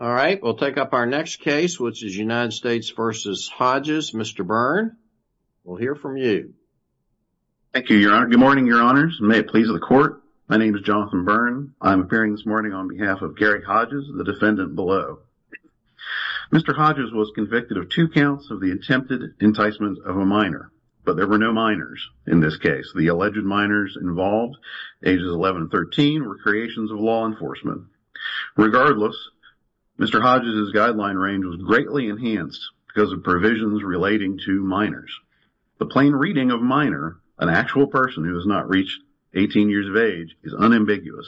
All right, we'll take up our next case, which is United States v. Hodges. Mr. Byrne, we'll hear from you. Thank you, Your Honor. Good morning, Your Honors, and may it please the Court. My name is Jonathan Byrne. I'm appearing this morning on behalf of Gary Hodges, the defendant below. Mr. Hodges was convicted of two counts of the attempted enticement of a minor, but there were no minors in this case. The alleged minors involved, ages 11 and 13, were creations of law enforcement. Regardless, Mr. Hodges' guideline range was greatly enhanced because of provisions relating to minors. The plain reading of minor, an actual person who has not reached 18 years of age, is unambiguous.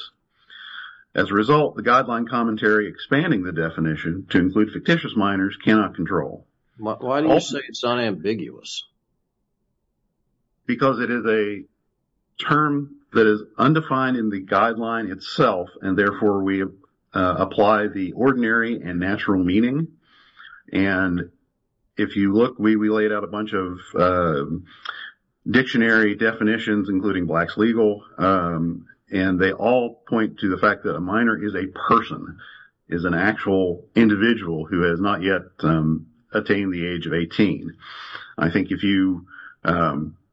As a result, the guideline commentary expanding the definition to include fictitious minors cannot control. Why do you say it's unambiguous? Because it is a term that is undefined in the guideline itself, and therefore we apply the ordinary and natural meaning. And if you look, we laid out a bunch of dictionary definitions, including blacks legal, and they all point to the fact that a minor is a person, is an actual individual who has not yet attained the age of 18. I think if you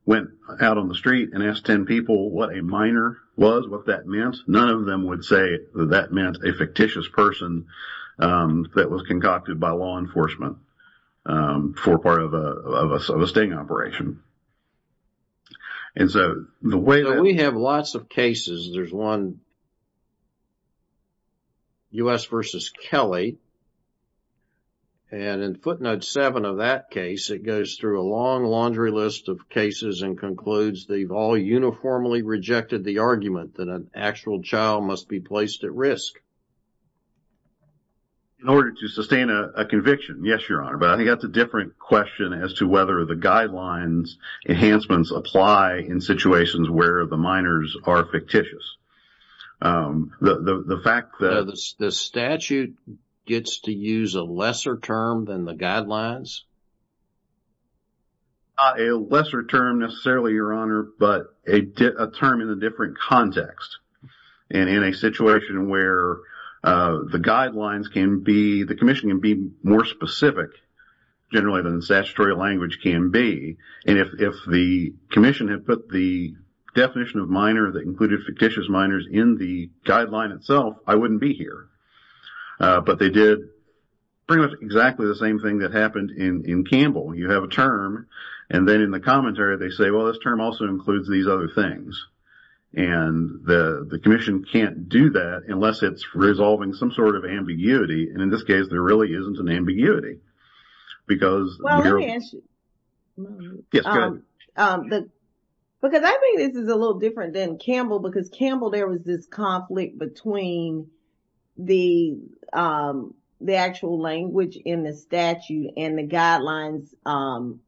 went out on the street and asked 10 people what a minor was, what that meant, none of them would say that that meant a fictitious person that was concocted by law enforcement for part of a sting operation. We have lots of cases. There's one, U.S. v. Kelly, and in footnote 7 of that case, it goes through a long laundry list of cases and concludes they've all uniformly rejected the argument that an actual child must be placed at risk. In order to sustain a conviction, yes, Your Honor, but I think that's a different question as to whether the guidelines enhancements apply in situations where the minors are fictitious. The fact that... The statute gets to use a lesser term than the guidelines? A lesser term, necessarily, Your Honor, but a term in a different context. And in a situation where the guidelines can be... The commission can be more specific, generally, than the statutory language can be. And if the commission had put the definition of minor that included fictitious minors in the guideline itself, I wouldn't be here. But they did pretty much exactly the same thing that happened in Campbell. You have a term, and then in the commentary they say, well, this term also includes these other things. And the commission can't do that unless it's resolving some sort of ambiguity. And in this case, there really isn't an ambiguity. Because you're... Well, let me answer... Yes, go ahead. Because I think this is a little different than Campbell, because Campbell, there was this conflict between the actual language in the statute and the guidelines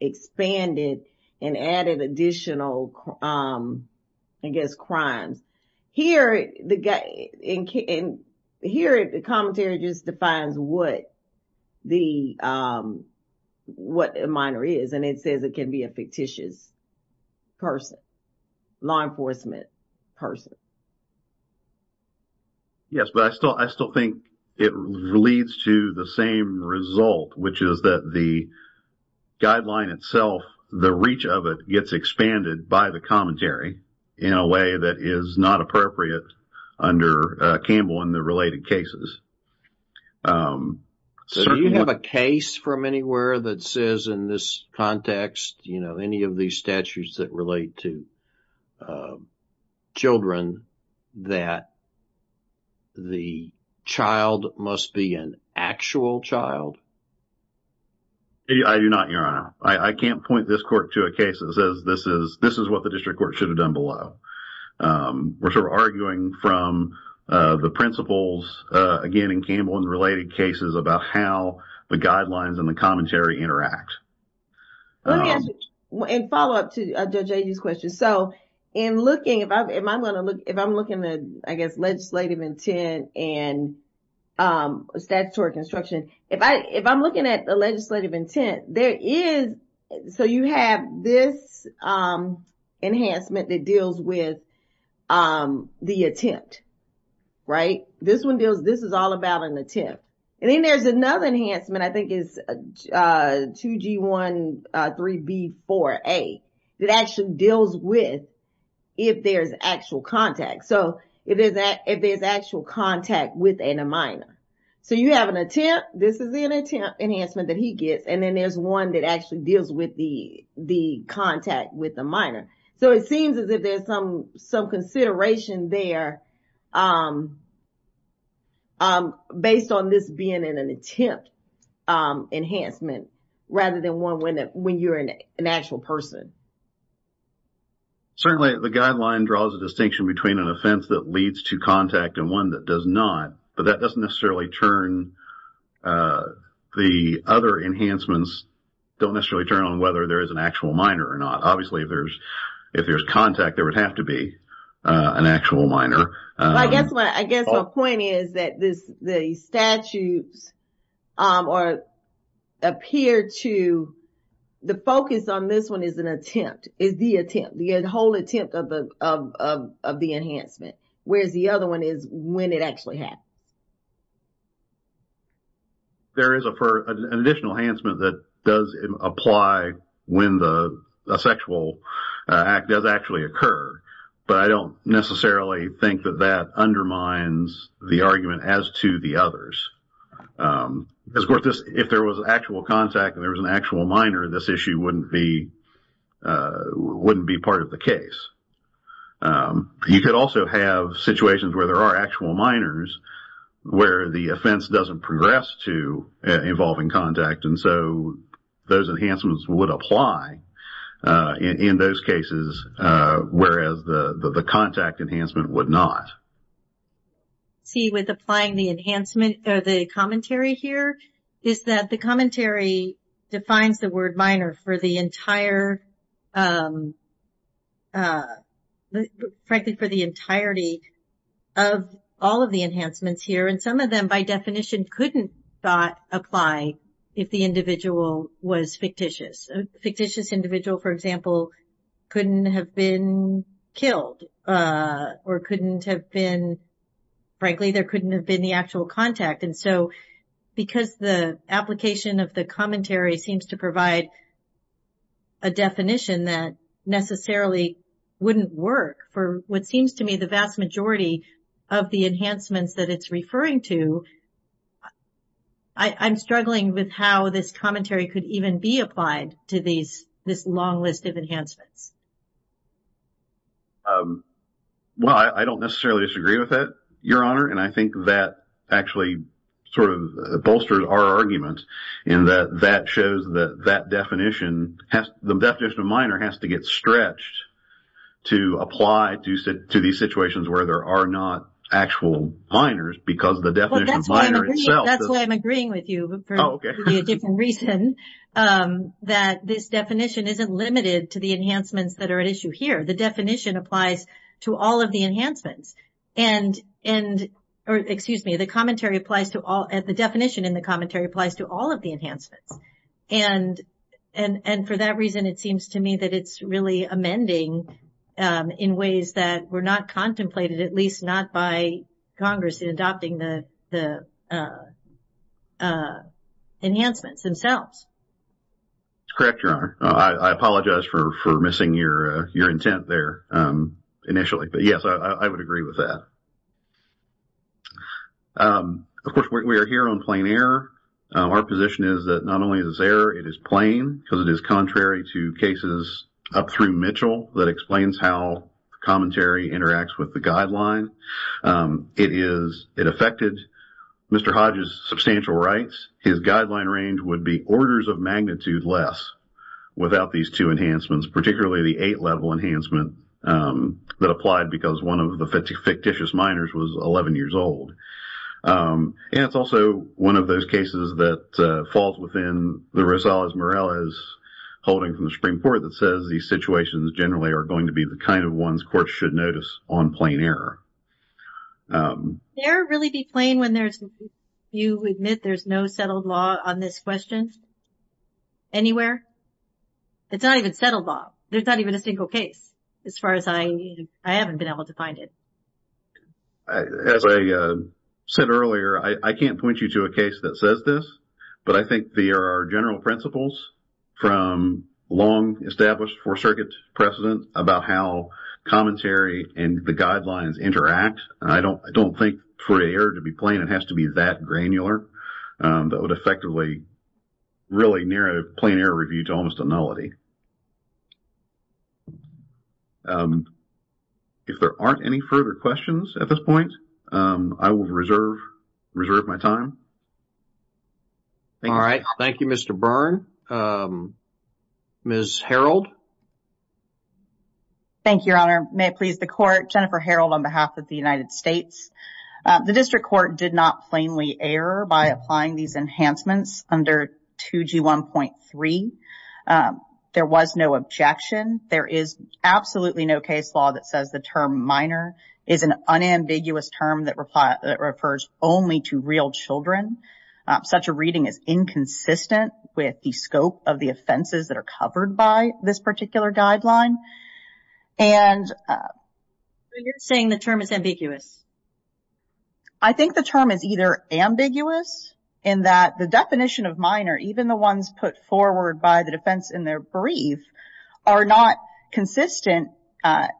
expanded and added additional, I guess, crimes. Here, the commentary just defines what a minor is, and it says it can be a fictitious person, law enforcement person. Yes, but I still think it leads to the same result, which is that the guideline itself, the reach of it gets expanded by the commentary in a way that is not appropriate under Campbell in the related cases. Do you have a case from anywhere that says in this context, you know, any of these statutes that relate to children, that the child must be an actual child? I do not, Your Honor. I can't point this court to a case that says this is what the district court should have done below. We're sort of arguing from the principles, again, in Campbell in the related cases about how the guidelines and the commentary interact. Let me ask you, and follow up to Judge Agee's question. So, if I'm looking at, I guess, legislative intent and statutory construction, if I'm looking at the legislative intent, there is, so you have this enhancement that deals with the attempt, right? This one deals, this is all about an attempt. And then there's another enhancement, I think, is 2G13B4A that actually deals with if there's actual contact. So, if there's actual contact with a minor. So, you have an attempt, this is an attempt enhancement that he gets, and then there's one that actually deals with the contact with a minor. So, it seems as if there's some consideration there based on this being an attempt enhancement rather than one when you're an actual person. Certainly, the guideline draws a distinction between an offense that leads to contact and one that does not. But that doesn't necessarily turn, the other enhancements don't necessarily turn on whether there is an actual minor or not. Obviously, if there's contact, there would have to be an actual minor. I guess my point is that the statutes appear to, the focus on this one is an attempt. Is the attempt, the whole attempt of the enhancement. Whereas the other one is when it actually happens. There is an additional enhancement that does apply when the sexual act does actually occur. But I don't necessarily think that that undermines the argument as to the others. Of course, if there was actual contact and there was an actual minor, this issue wouldn't be part of the case. You could also have situations where there are actual minors where the offense doesn't progress to involving contact. So, those enhancements would apply in those cases, whereas the contact enhancement would not. See, with applying the enhancement, the commentary here is that the commentary defines the word minor for the entire, frankly for the entirety of all of the enhancements here. And some of them by definition couldn't apply if the individual was fictitious. A fictitious individual for example, couldn't have been killed or couldn't have been, frankly there couldn't have been the actual contact. And so, because the application of the commentary seems to provide a definition that necessarily wouldn't work for what seems to me the vast majority of the enhancements that it's referring to, I'm struggling with how this commentary could even be applied to these, this long list of enhancements. Well, I don't necessarily disagree with that, Your Honor. And I think that actually sort of bolsters our argument in that that shows that that definition, the definition of minor has to get stretched to apply to these situations where there are not actual minors because the definition of minor itself. That's why I'm agreeing with you for a different reason that this definition isn't limited to the enhancements that are at issue here. The definition applies to all of the enhancements. And, or excuse me, the commentary applies to all, the definition in the commentary applies to all of the enhancements. And for that reason it seems to me that it's really amending in ways that were not contemplated, at least not by Congress in adopting the enhancements themselves. Correct, Your Honor. I apologize for missing your intent there initially. But yes, I would agree with that. Of course, we are here on plain error. Our position is that not only is this error, it is plain because it is contrary to cases up through Mitchell that explains how commentary interacts with the guideline. It affected Mr. Hodge's substantial rights. His guideline range would be orders of magnitude less without these two enhancements, particularly the eight-level enhancement that applied because one of the fictitious minors was 11 years old. And it's also one of those cases that falls within the Rosales-Morales holding from the Supreme Court that says these situations generally are going to be the kind of ones courts should notice on plain error. Can error really be plain when there's, you admit there's no settled law on this question anywhere? It's not even settled law. There's not even a single case as far as I, I haven't been able to find it. As I said earlier, I can't point you to a case that says this, but I think there are general principles from long established Fourth Circuit precedent about how commentary and the guidelines interact. I don't, I don't think for an error to be plain, it has to be that granular that would effectively really near a plain error review to almost a nullity. If there aren't any further questions at this point, I will reserve, reserve my time. All right. Thank you, Mr. Byrne. Ms. Harreld? Thank you, Your Honor. May it please the Court, Jennifer Harreld on behalf of the United States. The District Court did not plainly error by applying these enhancements under 2G1.3. There was no objection. There is absolutely no case law that says the term minor is an unambiguous term that refers only to real children. Such a reading is inconsistent with the scope of the offenses that are covered by this particular guideline. And... So, you're saying the term is ambiguous? I think the term is either ambiguous in that the definition of minor, even the ones put forward by the defense in their brief, are not consistent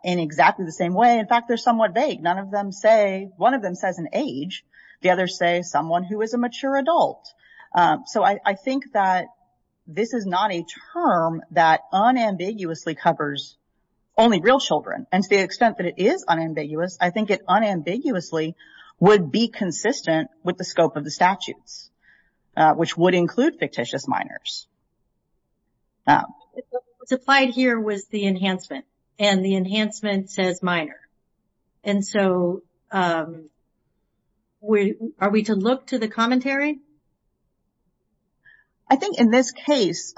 in exactly the same way. In fact, they're somewhat vague. None of them say, one of them says an age. The others say someone who is a mature adult. So, I think that this is not a term that unambiguously covers only real children. And to the extent that it is unambiguous, I think it unambiguously would be consistent with the scope of the statutes, which would include fictitious minors. What's applied here was the enhancement, and the enhancement says minor. And so, are we to look to the commentary? I think in this case,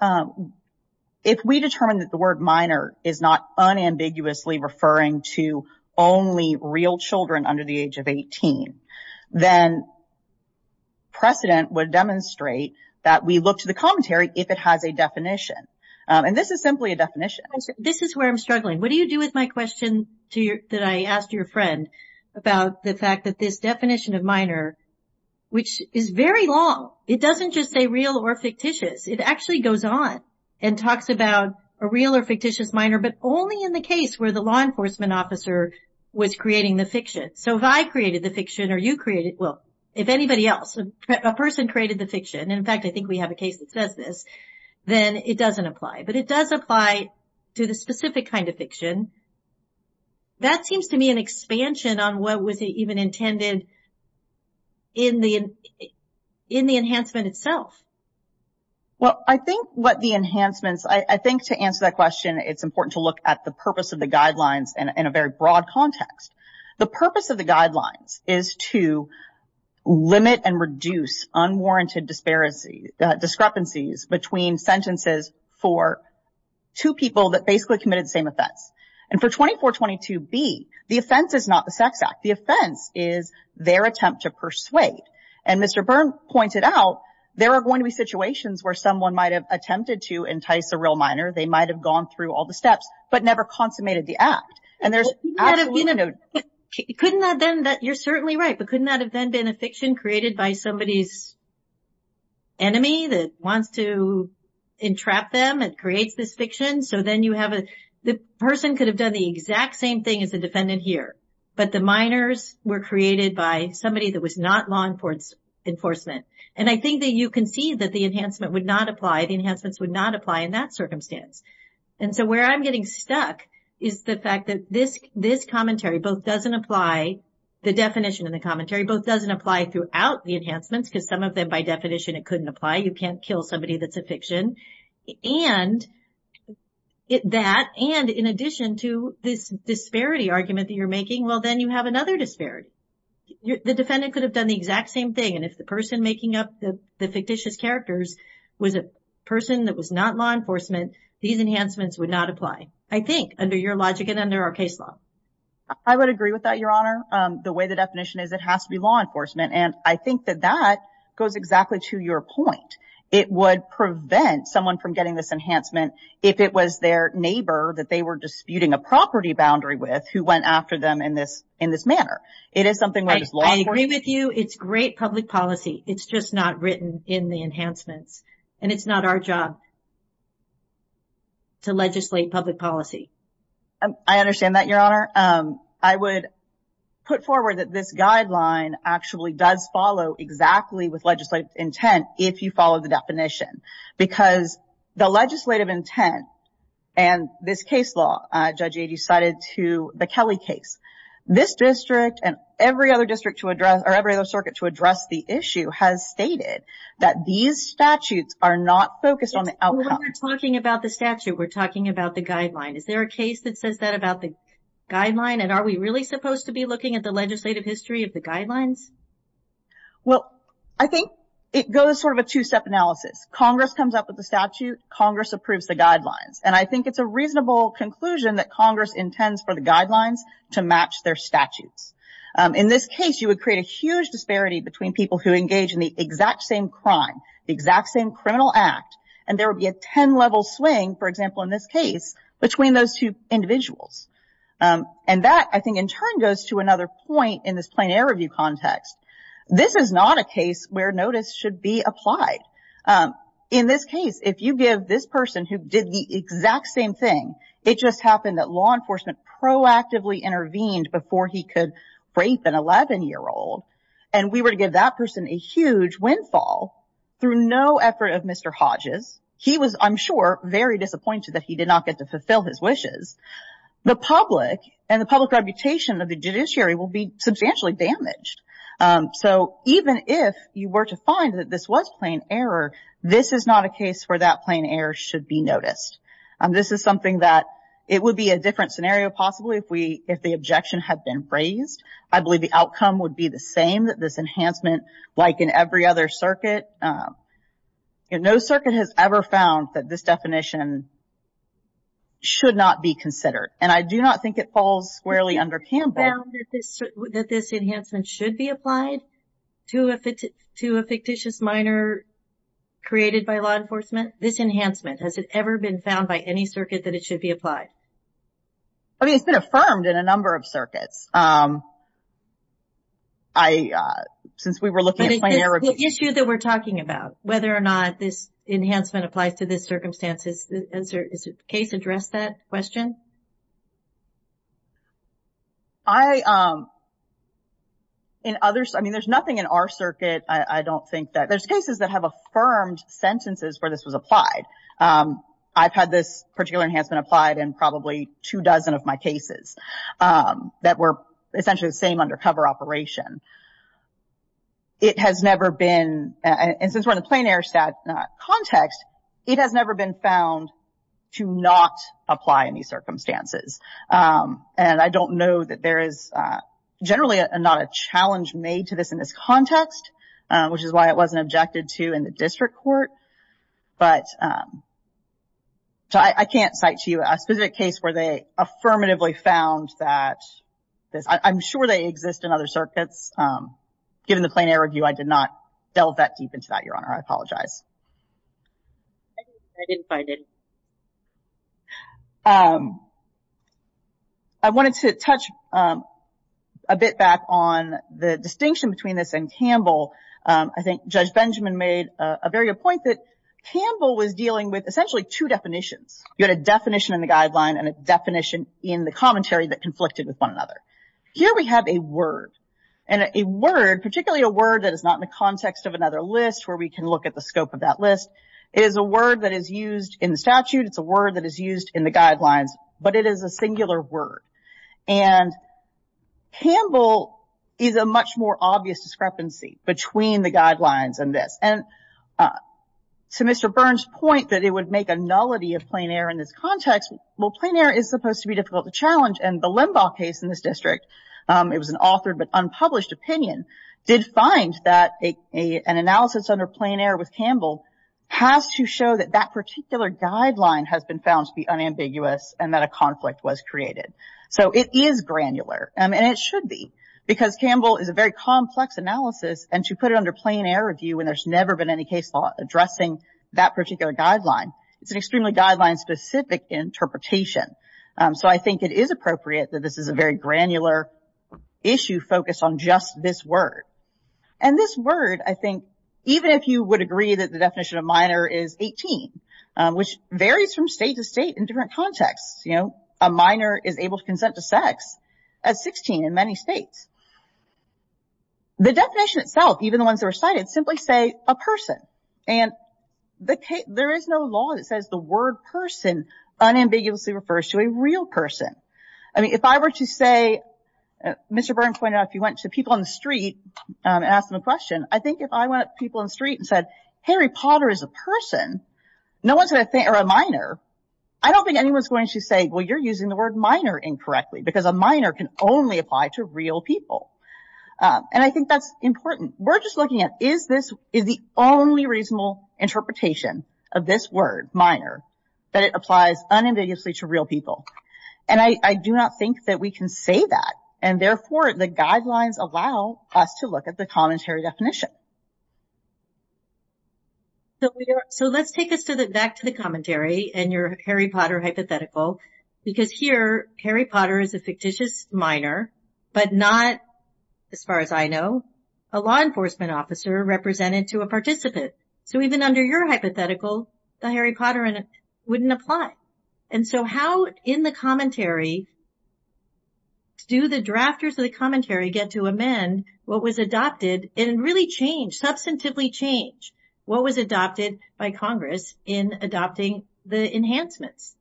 if we determine that the word minor is not unambiguously referring to only real children under the age of 18, then precedent would demonstrate that we look to the commentary if it has a definition. And this is simply a definition. This is where I'm struggling. What do you do with my question that I asked your friend about the fact that this definition of minor, which is very long, it doesn't just say real or fictitious. It actually goes on and talks about a real or fictitious minor, but only in the case where the law enforcement officer was creating the fiction. So, if I created the fiction or you created, well, if anybody else, a person created the fiction, in fact I think we have a case that says this, then it doesn't apply. But it does apply to the specific kind of fiction. That seems to me an expansion on what was even intended in the enhancement itself. Well, I think what the enhancements, I think to answer that question, it's important to look at the purpose of the guidelines in a very broad context. The purpose of the guidelines is to limit and reduce unwarranted discrepancies between sentences for two people that basically committed the same offense. And for 2422B, the offense is not the sex act. The offense is their attempt to persuade. And Mr. Byrne pointed out there are going to be situations where someone might have attempted to entice a real minor. They might have gone through all the steps, but never consummated the act. Couldn't that have been, you're certainly right, but couldn't that have been a fiction created by somebody's enemy that wants to entrap them and creates this fiction? So then you have a, the person could have done the exact same thing as the defendant here. But the minors were created by somebody that was not law enforcement. And I think that you can see that the enhancement would not apply, the enhancements would not apply in that circumstance. And so where I'm getting stuck is the fact that this, this commentary both doesn't apply, the definition of the commentary both doesn't apply throughout the enhancements, because some of them by definition it couldn't apply. You can't kill somebody that's a fiction. And that, and in addition to this disparity argument that you're making, well then you have another disparity. The defendant could have done the exact same thing. And if the person making up the fictitious characters was a person that was not law enforcement, these enhancements would not apply. I think, under your logic and under our case law. I would agree with that, Your Honor. The way the definition is, it has to be law enforcement. And I think that that goes exactly to your point. It would prevent someone from getting this enhancement if it was their neighbor that they were disputing a property boundary with who went after them in this, in this manner. It is something that is law enforcement. I agree with you. It's great public policy. It's just not written in the enhancements. And it's not our job to legislate public policy. I understand that, Your Honor. I would put forward that this guideline actually does follow exactly with legislative intent if you follow the definition. Because the legislative intent and this case law, Judge Adey cited to the Kelly case. This district and every other district to address, or every other circuit to address the issue has stated that these statutes are not focused on the outcome. When we're talking about the statute, we're talking about the guideline. Is there a case that says that about the guideline? And are we really supposed to be looking at the legislative history of the guidelines? Well, I think it goes sort of a two-step analysis. Congress comes up with the statute. Congress approves the guidelines. And I think it's a reasonable conclusion that Congress intends for the guidelines to match their statutes. In this case, you would create a huge disparity between people who engage in the exact same crime, the exact same criminal act. And there would be a ten-level swing, for example, in this case, between those two individuals. And that, I think, in turn goes to another point in this plain error review context. This is not a case where notice should be applied. In this case, if you give this person who did the exact same thing, it just happened that law enforcement proactively intervened before he could rape an 11-year-old, and we were to give that person a huge windfall through no effort of Mr. Hodges, he was, I'm sure, very disappointed that he did not get to fulfill his wishes, the public and the public reputation of the judiciary will be substantially damaged. So even if you were to find that this was plain error, this is not a case where that plain error should be noticed. This is something that it would be a different scenario, possibly, if the objection had been raised. I believe the outcome would be the same, that this enhancement, like in every other circuit, no circuit has ever found that this definition should not be considered. And I do not think it falls squarely under CAMBED. MS. MCDOWELL That this enhancement should be applied to a fictitious minor created by law enforcement? This enhancement, has it ever been found by any circuit that it should be applied? MS. MCDOWELL I mean, it's been affirmed in a number of circuits. I, since we were looking at plain error. MS. MCDOWELL The issue that we're talking about, whether or not this enhancement applies to this circumstance, has the case addressed that question? MS. MCDOWELL I, in others, I mean, there's nothing in our circuit, I don't think that, there's cases that have affirmed sentences where this was applied. I've had this particular enhancement applied in probably two dozen of my cases that were essentially the same undercover operation. It has never been, and since we're in the plain error context, it has never been found to not apply in these circumstances. And I don't know that there is generally not a challenge made to this in this context, which is why it wasn't objected to in the district court. But I can't cite to you a specific case where they affirmatively found that, I'm sure they exist in other circuits. Given the plain error review, I did not delve that deep into that, Your Honor. I apologize. MS. MCDOWELL I didn't find any. MS. MCDOWELL I wanted to touch a bit back on the distinction between this and Campbell. I think Judge Benjamin made a very good point that Campbell was dealing with essentially two definitions. You had a definition in the guideline and a definition in the commentary that conflicted with one another. Here we have a word, and a word, and particularly a word that is not in the context of another list where we can look at the scope of that list, is a word that is used in statute. It's a word that is used in the guidelines, but it is a singular word. And Campbell is a much more obvious discrepancy between the guidelines and this. And to Mr. Burns' point that it would make a nullity of plain error in this context, well, plain error is supposed to be difficult to challenge. And the Limbaugh case in this district, it was an authored but unpublished opinion, did find that an analysis under plain error with Campbell has to show that that particular guideline has been found to be unambiguous and that a conflict was created. So it is granular and it should be, because Campbell is a very complex analysis and to put it under plain error view when there's never been any case law addressing that particular guideline it's an extremely guideline specific interpretation. So I think it is appropriate that this is a very granular issue focused on just this word. And this word, I think, even if you would agree that the definition of minor is 18, which varies from state to state in different contexts, you know, a minor is able to consent to sex at 16 in many states. The definition itself, even the ones that were cited, simply say a person. And there is no law that says the word person unambiguously refers to a real person. I mean, if I were to say, Mr. Burns pointed out, if you went to people on the street and asked them a question, I think if I went up to people on the street and said, Harry Potter is a person, no one's going to think, or a minor, I don't think anyone's going to say, well, you're using the word minor incorrectly, because a minor can only apply to real people. And I think that's important. We're just looking at, is the only reasonable interpretation of this word, minor, that it applies unambiguously to real people? And I do not think that we can say that. And therefore, the guidelines allow us to look at the commentary definition. So let's take us back to the commentary and your Harry Potter hypothetical, because here, Harry Potter is a fictitious minor, but not, as far as I know, a law enforcement officer represented to a participant. So even under your hypothetical, the Harry Potter wouldn't apply. And so how, in the commentary, do the drafters of the commentary get to amend what was adopted and really change, substantively change, what was adopted by Congress in adopting the enhancements?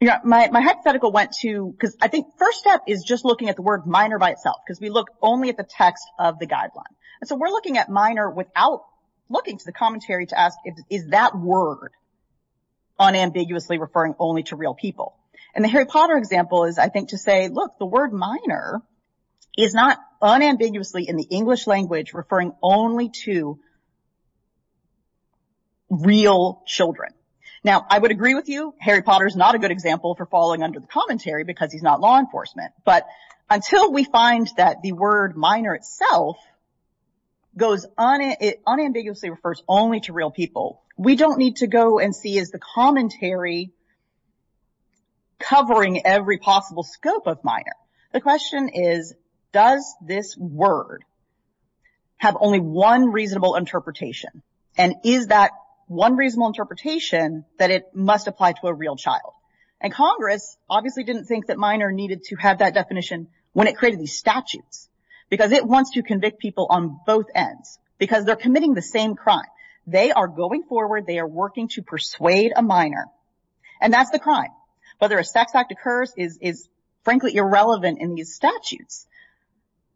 My hypothetical went to, because I think the first step is just looking at the word minor by itself, because we look only at the text of the guideline. And so we're looking at minor without looking to the commentary to ask, is that word unambiguously referring only to real people? And the Harry Potter example is, I think, to say, look, the word unambiguously in the English language referring only to real children. Now, I would agree with you, Harry Potter's not a good example for falling under the commentary because he's not law enforcement. But until we find that the word minor itself goes unambiguously refers only to real people, we don't need to go and see, is the commentary covering every possible scope of minor? The question is, does this word have only one reasonable interpretation? And is that one reasonable interpretation that it must apply to a real child? And Congress obviously didn't think that minor needed to have that definition when it created these statutes because it wants to convict people on both ends because they're committing the same crime. They are going forward. They are working to persuade a minor. And that's the guideline. Whether a sex act occurs is frankly irrelevant in these statutes.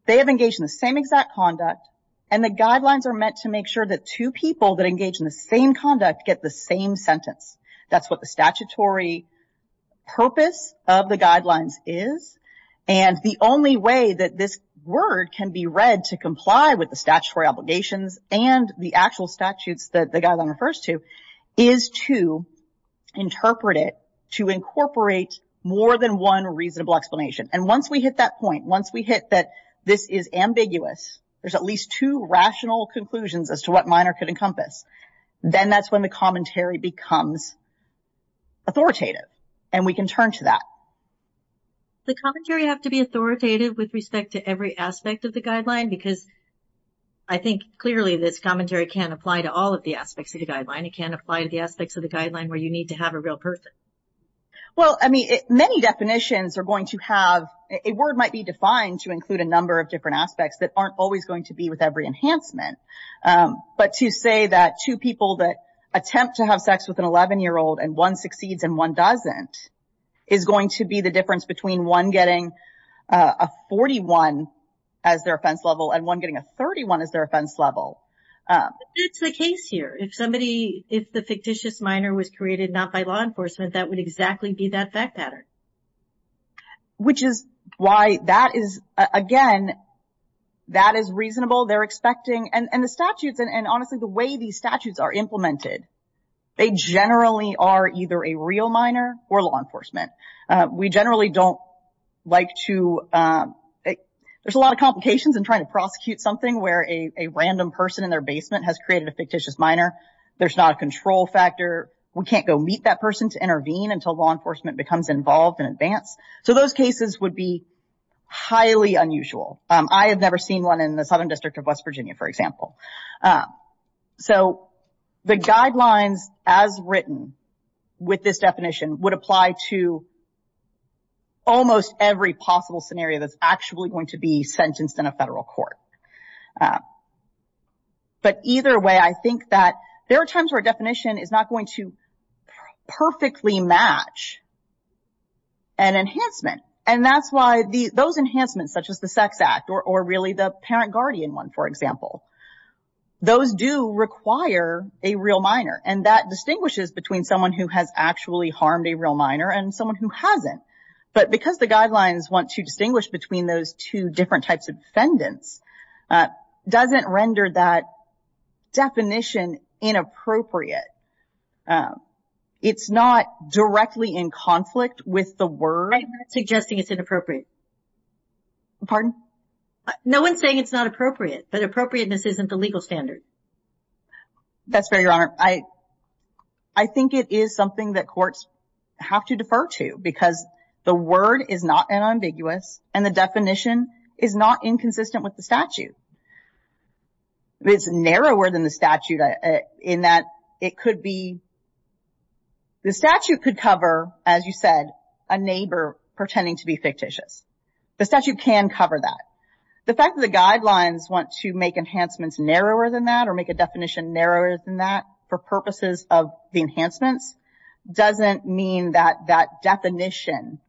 They have engaged in the same exact conduct and the guidelines are meant to make sure that two people that engage in the same conduct get the same sentence. That's what the statutory purpose of the guidelines is and the only way that this word can be read to comply with the statutory obligations and the actual statutes that the guideline refers to is to interpret it to incorporate more than one reasonable explanation. And once we hit that point, once we hit that this is ambiguous, there's at least two rational conclusions as to what minor could encompass, then that's when the commentary becomes authoritative and we can turn to that. The commentary have to be authoritative with respect to every aspect of the guideline because I think clearly this commentary can't apply to all of the aspects of the guideline. It can't apply to the aspects of the guideline where you need to have a real person. Well, I mean, many definitions are going to have, a word might be defined to include a number of different aspects that aren't always going to be with every enhancement. But to say that two people that attempt to have sex with an 11 year old and one succeeds and one doesn't is going to be the difference between one getting a 41 as their offense level and one getting a 31 as their offense level. But that's the case here. If somebody, if the fictitious minor was created not by law enforcement, that would exactly be that fact pattern. Which is why that is, again, that is reasonable. They're expecting, and the statutes and honestly the way these statutes are implemented, they generally are either a real minor or law enforcement. We generally don't like to, there's a lot of complications in trying to prosecute something where a random person in their basement has created a fictitious minor. There's not a control factor. We can't go meet that person to intervene until law enforcement becomes involved in advance. So those cases would be highly unusual. I have never seen one in the Southern District of West Virginia, for example. So the guidelines as written with this definition would apply to almost every possible scenario that's actually going to be sentenced in a federal court. But either way, I think that there are times where a definition is not going to perfectly match an enhancement. And that's why those enhancements, such as the Sex Act or really the parent-guardian one, for example, those do require a real minor. And that distinguishes between someone who has actually harmed a real minor and someone who hasn't. But because the guidelines want to distinguish between those two different types of defendants, doesn't render that definition inappropriate. It's not directly in conflict with the word. I'm not suggesting it's inappropriate. Pardon? No one's saying it's not appropriate, but appropriateness isn't the legal standard. That's fair, Your Honor. I think it is something that courts have to defer to because the word is not unambiguous and the definition is not inconsistent with the statute. It's narrower than the statute in that it could be The statute could cover, as you said, a neighbor pretending to be fictitious. The statute can cover that. The fact that the guidelines want to make enhancements narrower than that or make a definition narrower than that for purposes of the enhancements, doesn't mean that that definition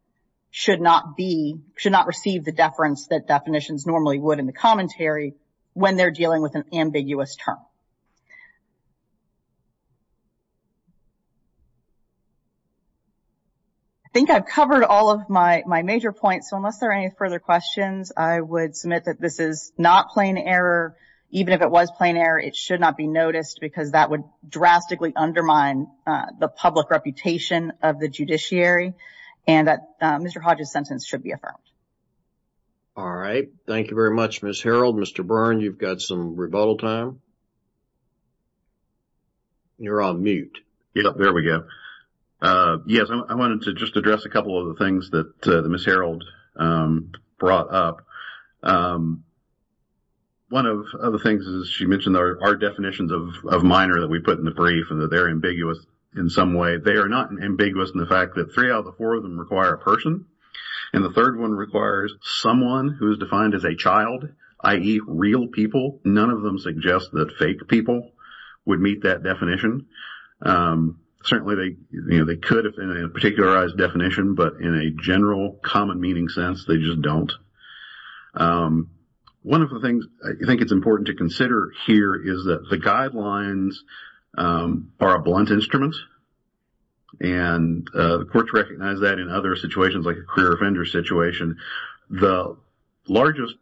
should not be, should not receive the I think I've covered all of my major points, so unless there are any further questions, I would submit that this is not plain error. Even if it was plain error, it should not be noticed because that would drastically undermine the public reputation of the judiciary and that Mr. Hodges' sentence should be affirmed. All right. Thank you very much, Ms. Harreld. Mr. Byrne, you've got some rebuttal time. You're on mute. There we go. Yes, I wanted to just address a couple of the things that Ms. Harreld brought up. One of the things that she mentioned are definitions of minor that we put in the brief and that they're ambiguous in some way. They are not ambiguous in the fact that three out of the four of them require a person and the third one requires someone who is defined as a child, i.e. real people. None of them suggest that fake people would meet that definition. Certainly, they could have been a particularized definition, but in a general common meaning sense, they just don't. One of the things I think it's important to consider here is that the guidelines are a blunt instrument and the courts recognize that in other situations like a career offender situation. The largest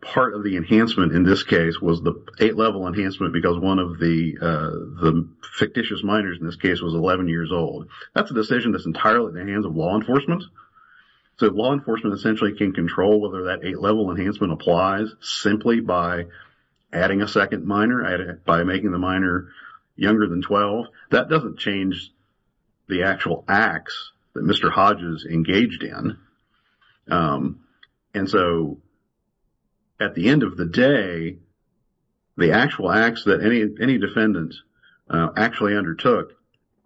part of the enhancement in this case was the eight-level enhancement because one of the fictitious minors in this case was 11 years old. That's a decision that's entirely in the hands of law enforcement. So law enforcement essentially can control whether that eight-level enhancement applies simply by adding a second minor, by making the minor younger than 12. That doesn't change the actual acts that Mr. Hodges engaged in. So at the end of the day, the actual acts that any defendant actually undertook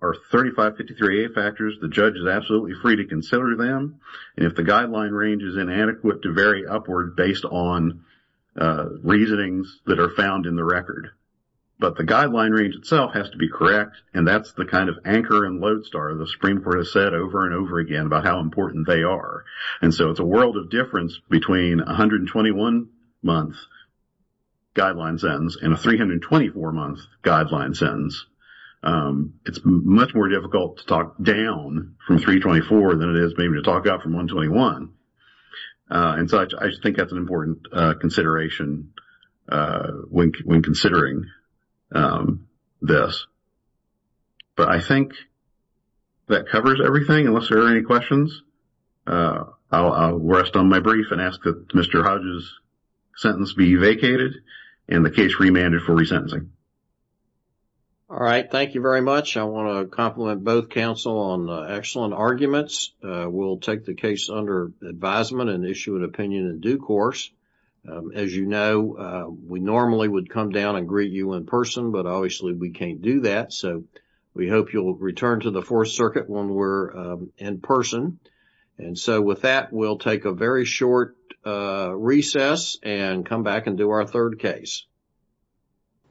are 3553A factors. The judge is absolutely free to consider them. If the guideline range is inadequate to vary upward based on reasonings that are found in the record. But the guideline range itself has to be correct, and that's the kind of anchor and lodestar the Supreme Court has said over and over again about how important they are. So it's a world of difference between a 121-month guideline sentence and a 324-month guideline sentence. It's much more difficult to talk down from 324 than it is maybe to talk up from 121. And so I think that's an important consideration when considering this. But I think that covers everything. Unless there are any questions, I'll rest on my brief and ask that Mr. Hodges' sentence be vacated and the case remanded for resentencing. All right. Thank you very much. I want to compliment both counsel on excellent arguments. We'll take the case under advisement and issue an opinion in due course. As you know, we normally would come down and greet you in person, but obviously we can't do that. So we hope you'll return to the Fourth Circuit when we're in person. And so with that, we'll take a very short recess and come back and do our third case.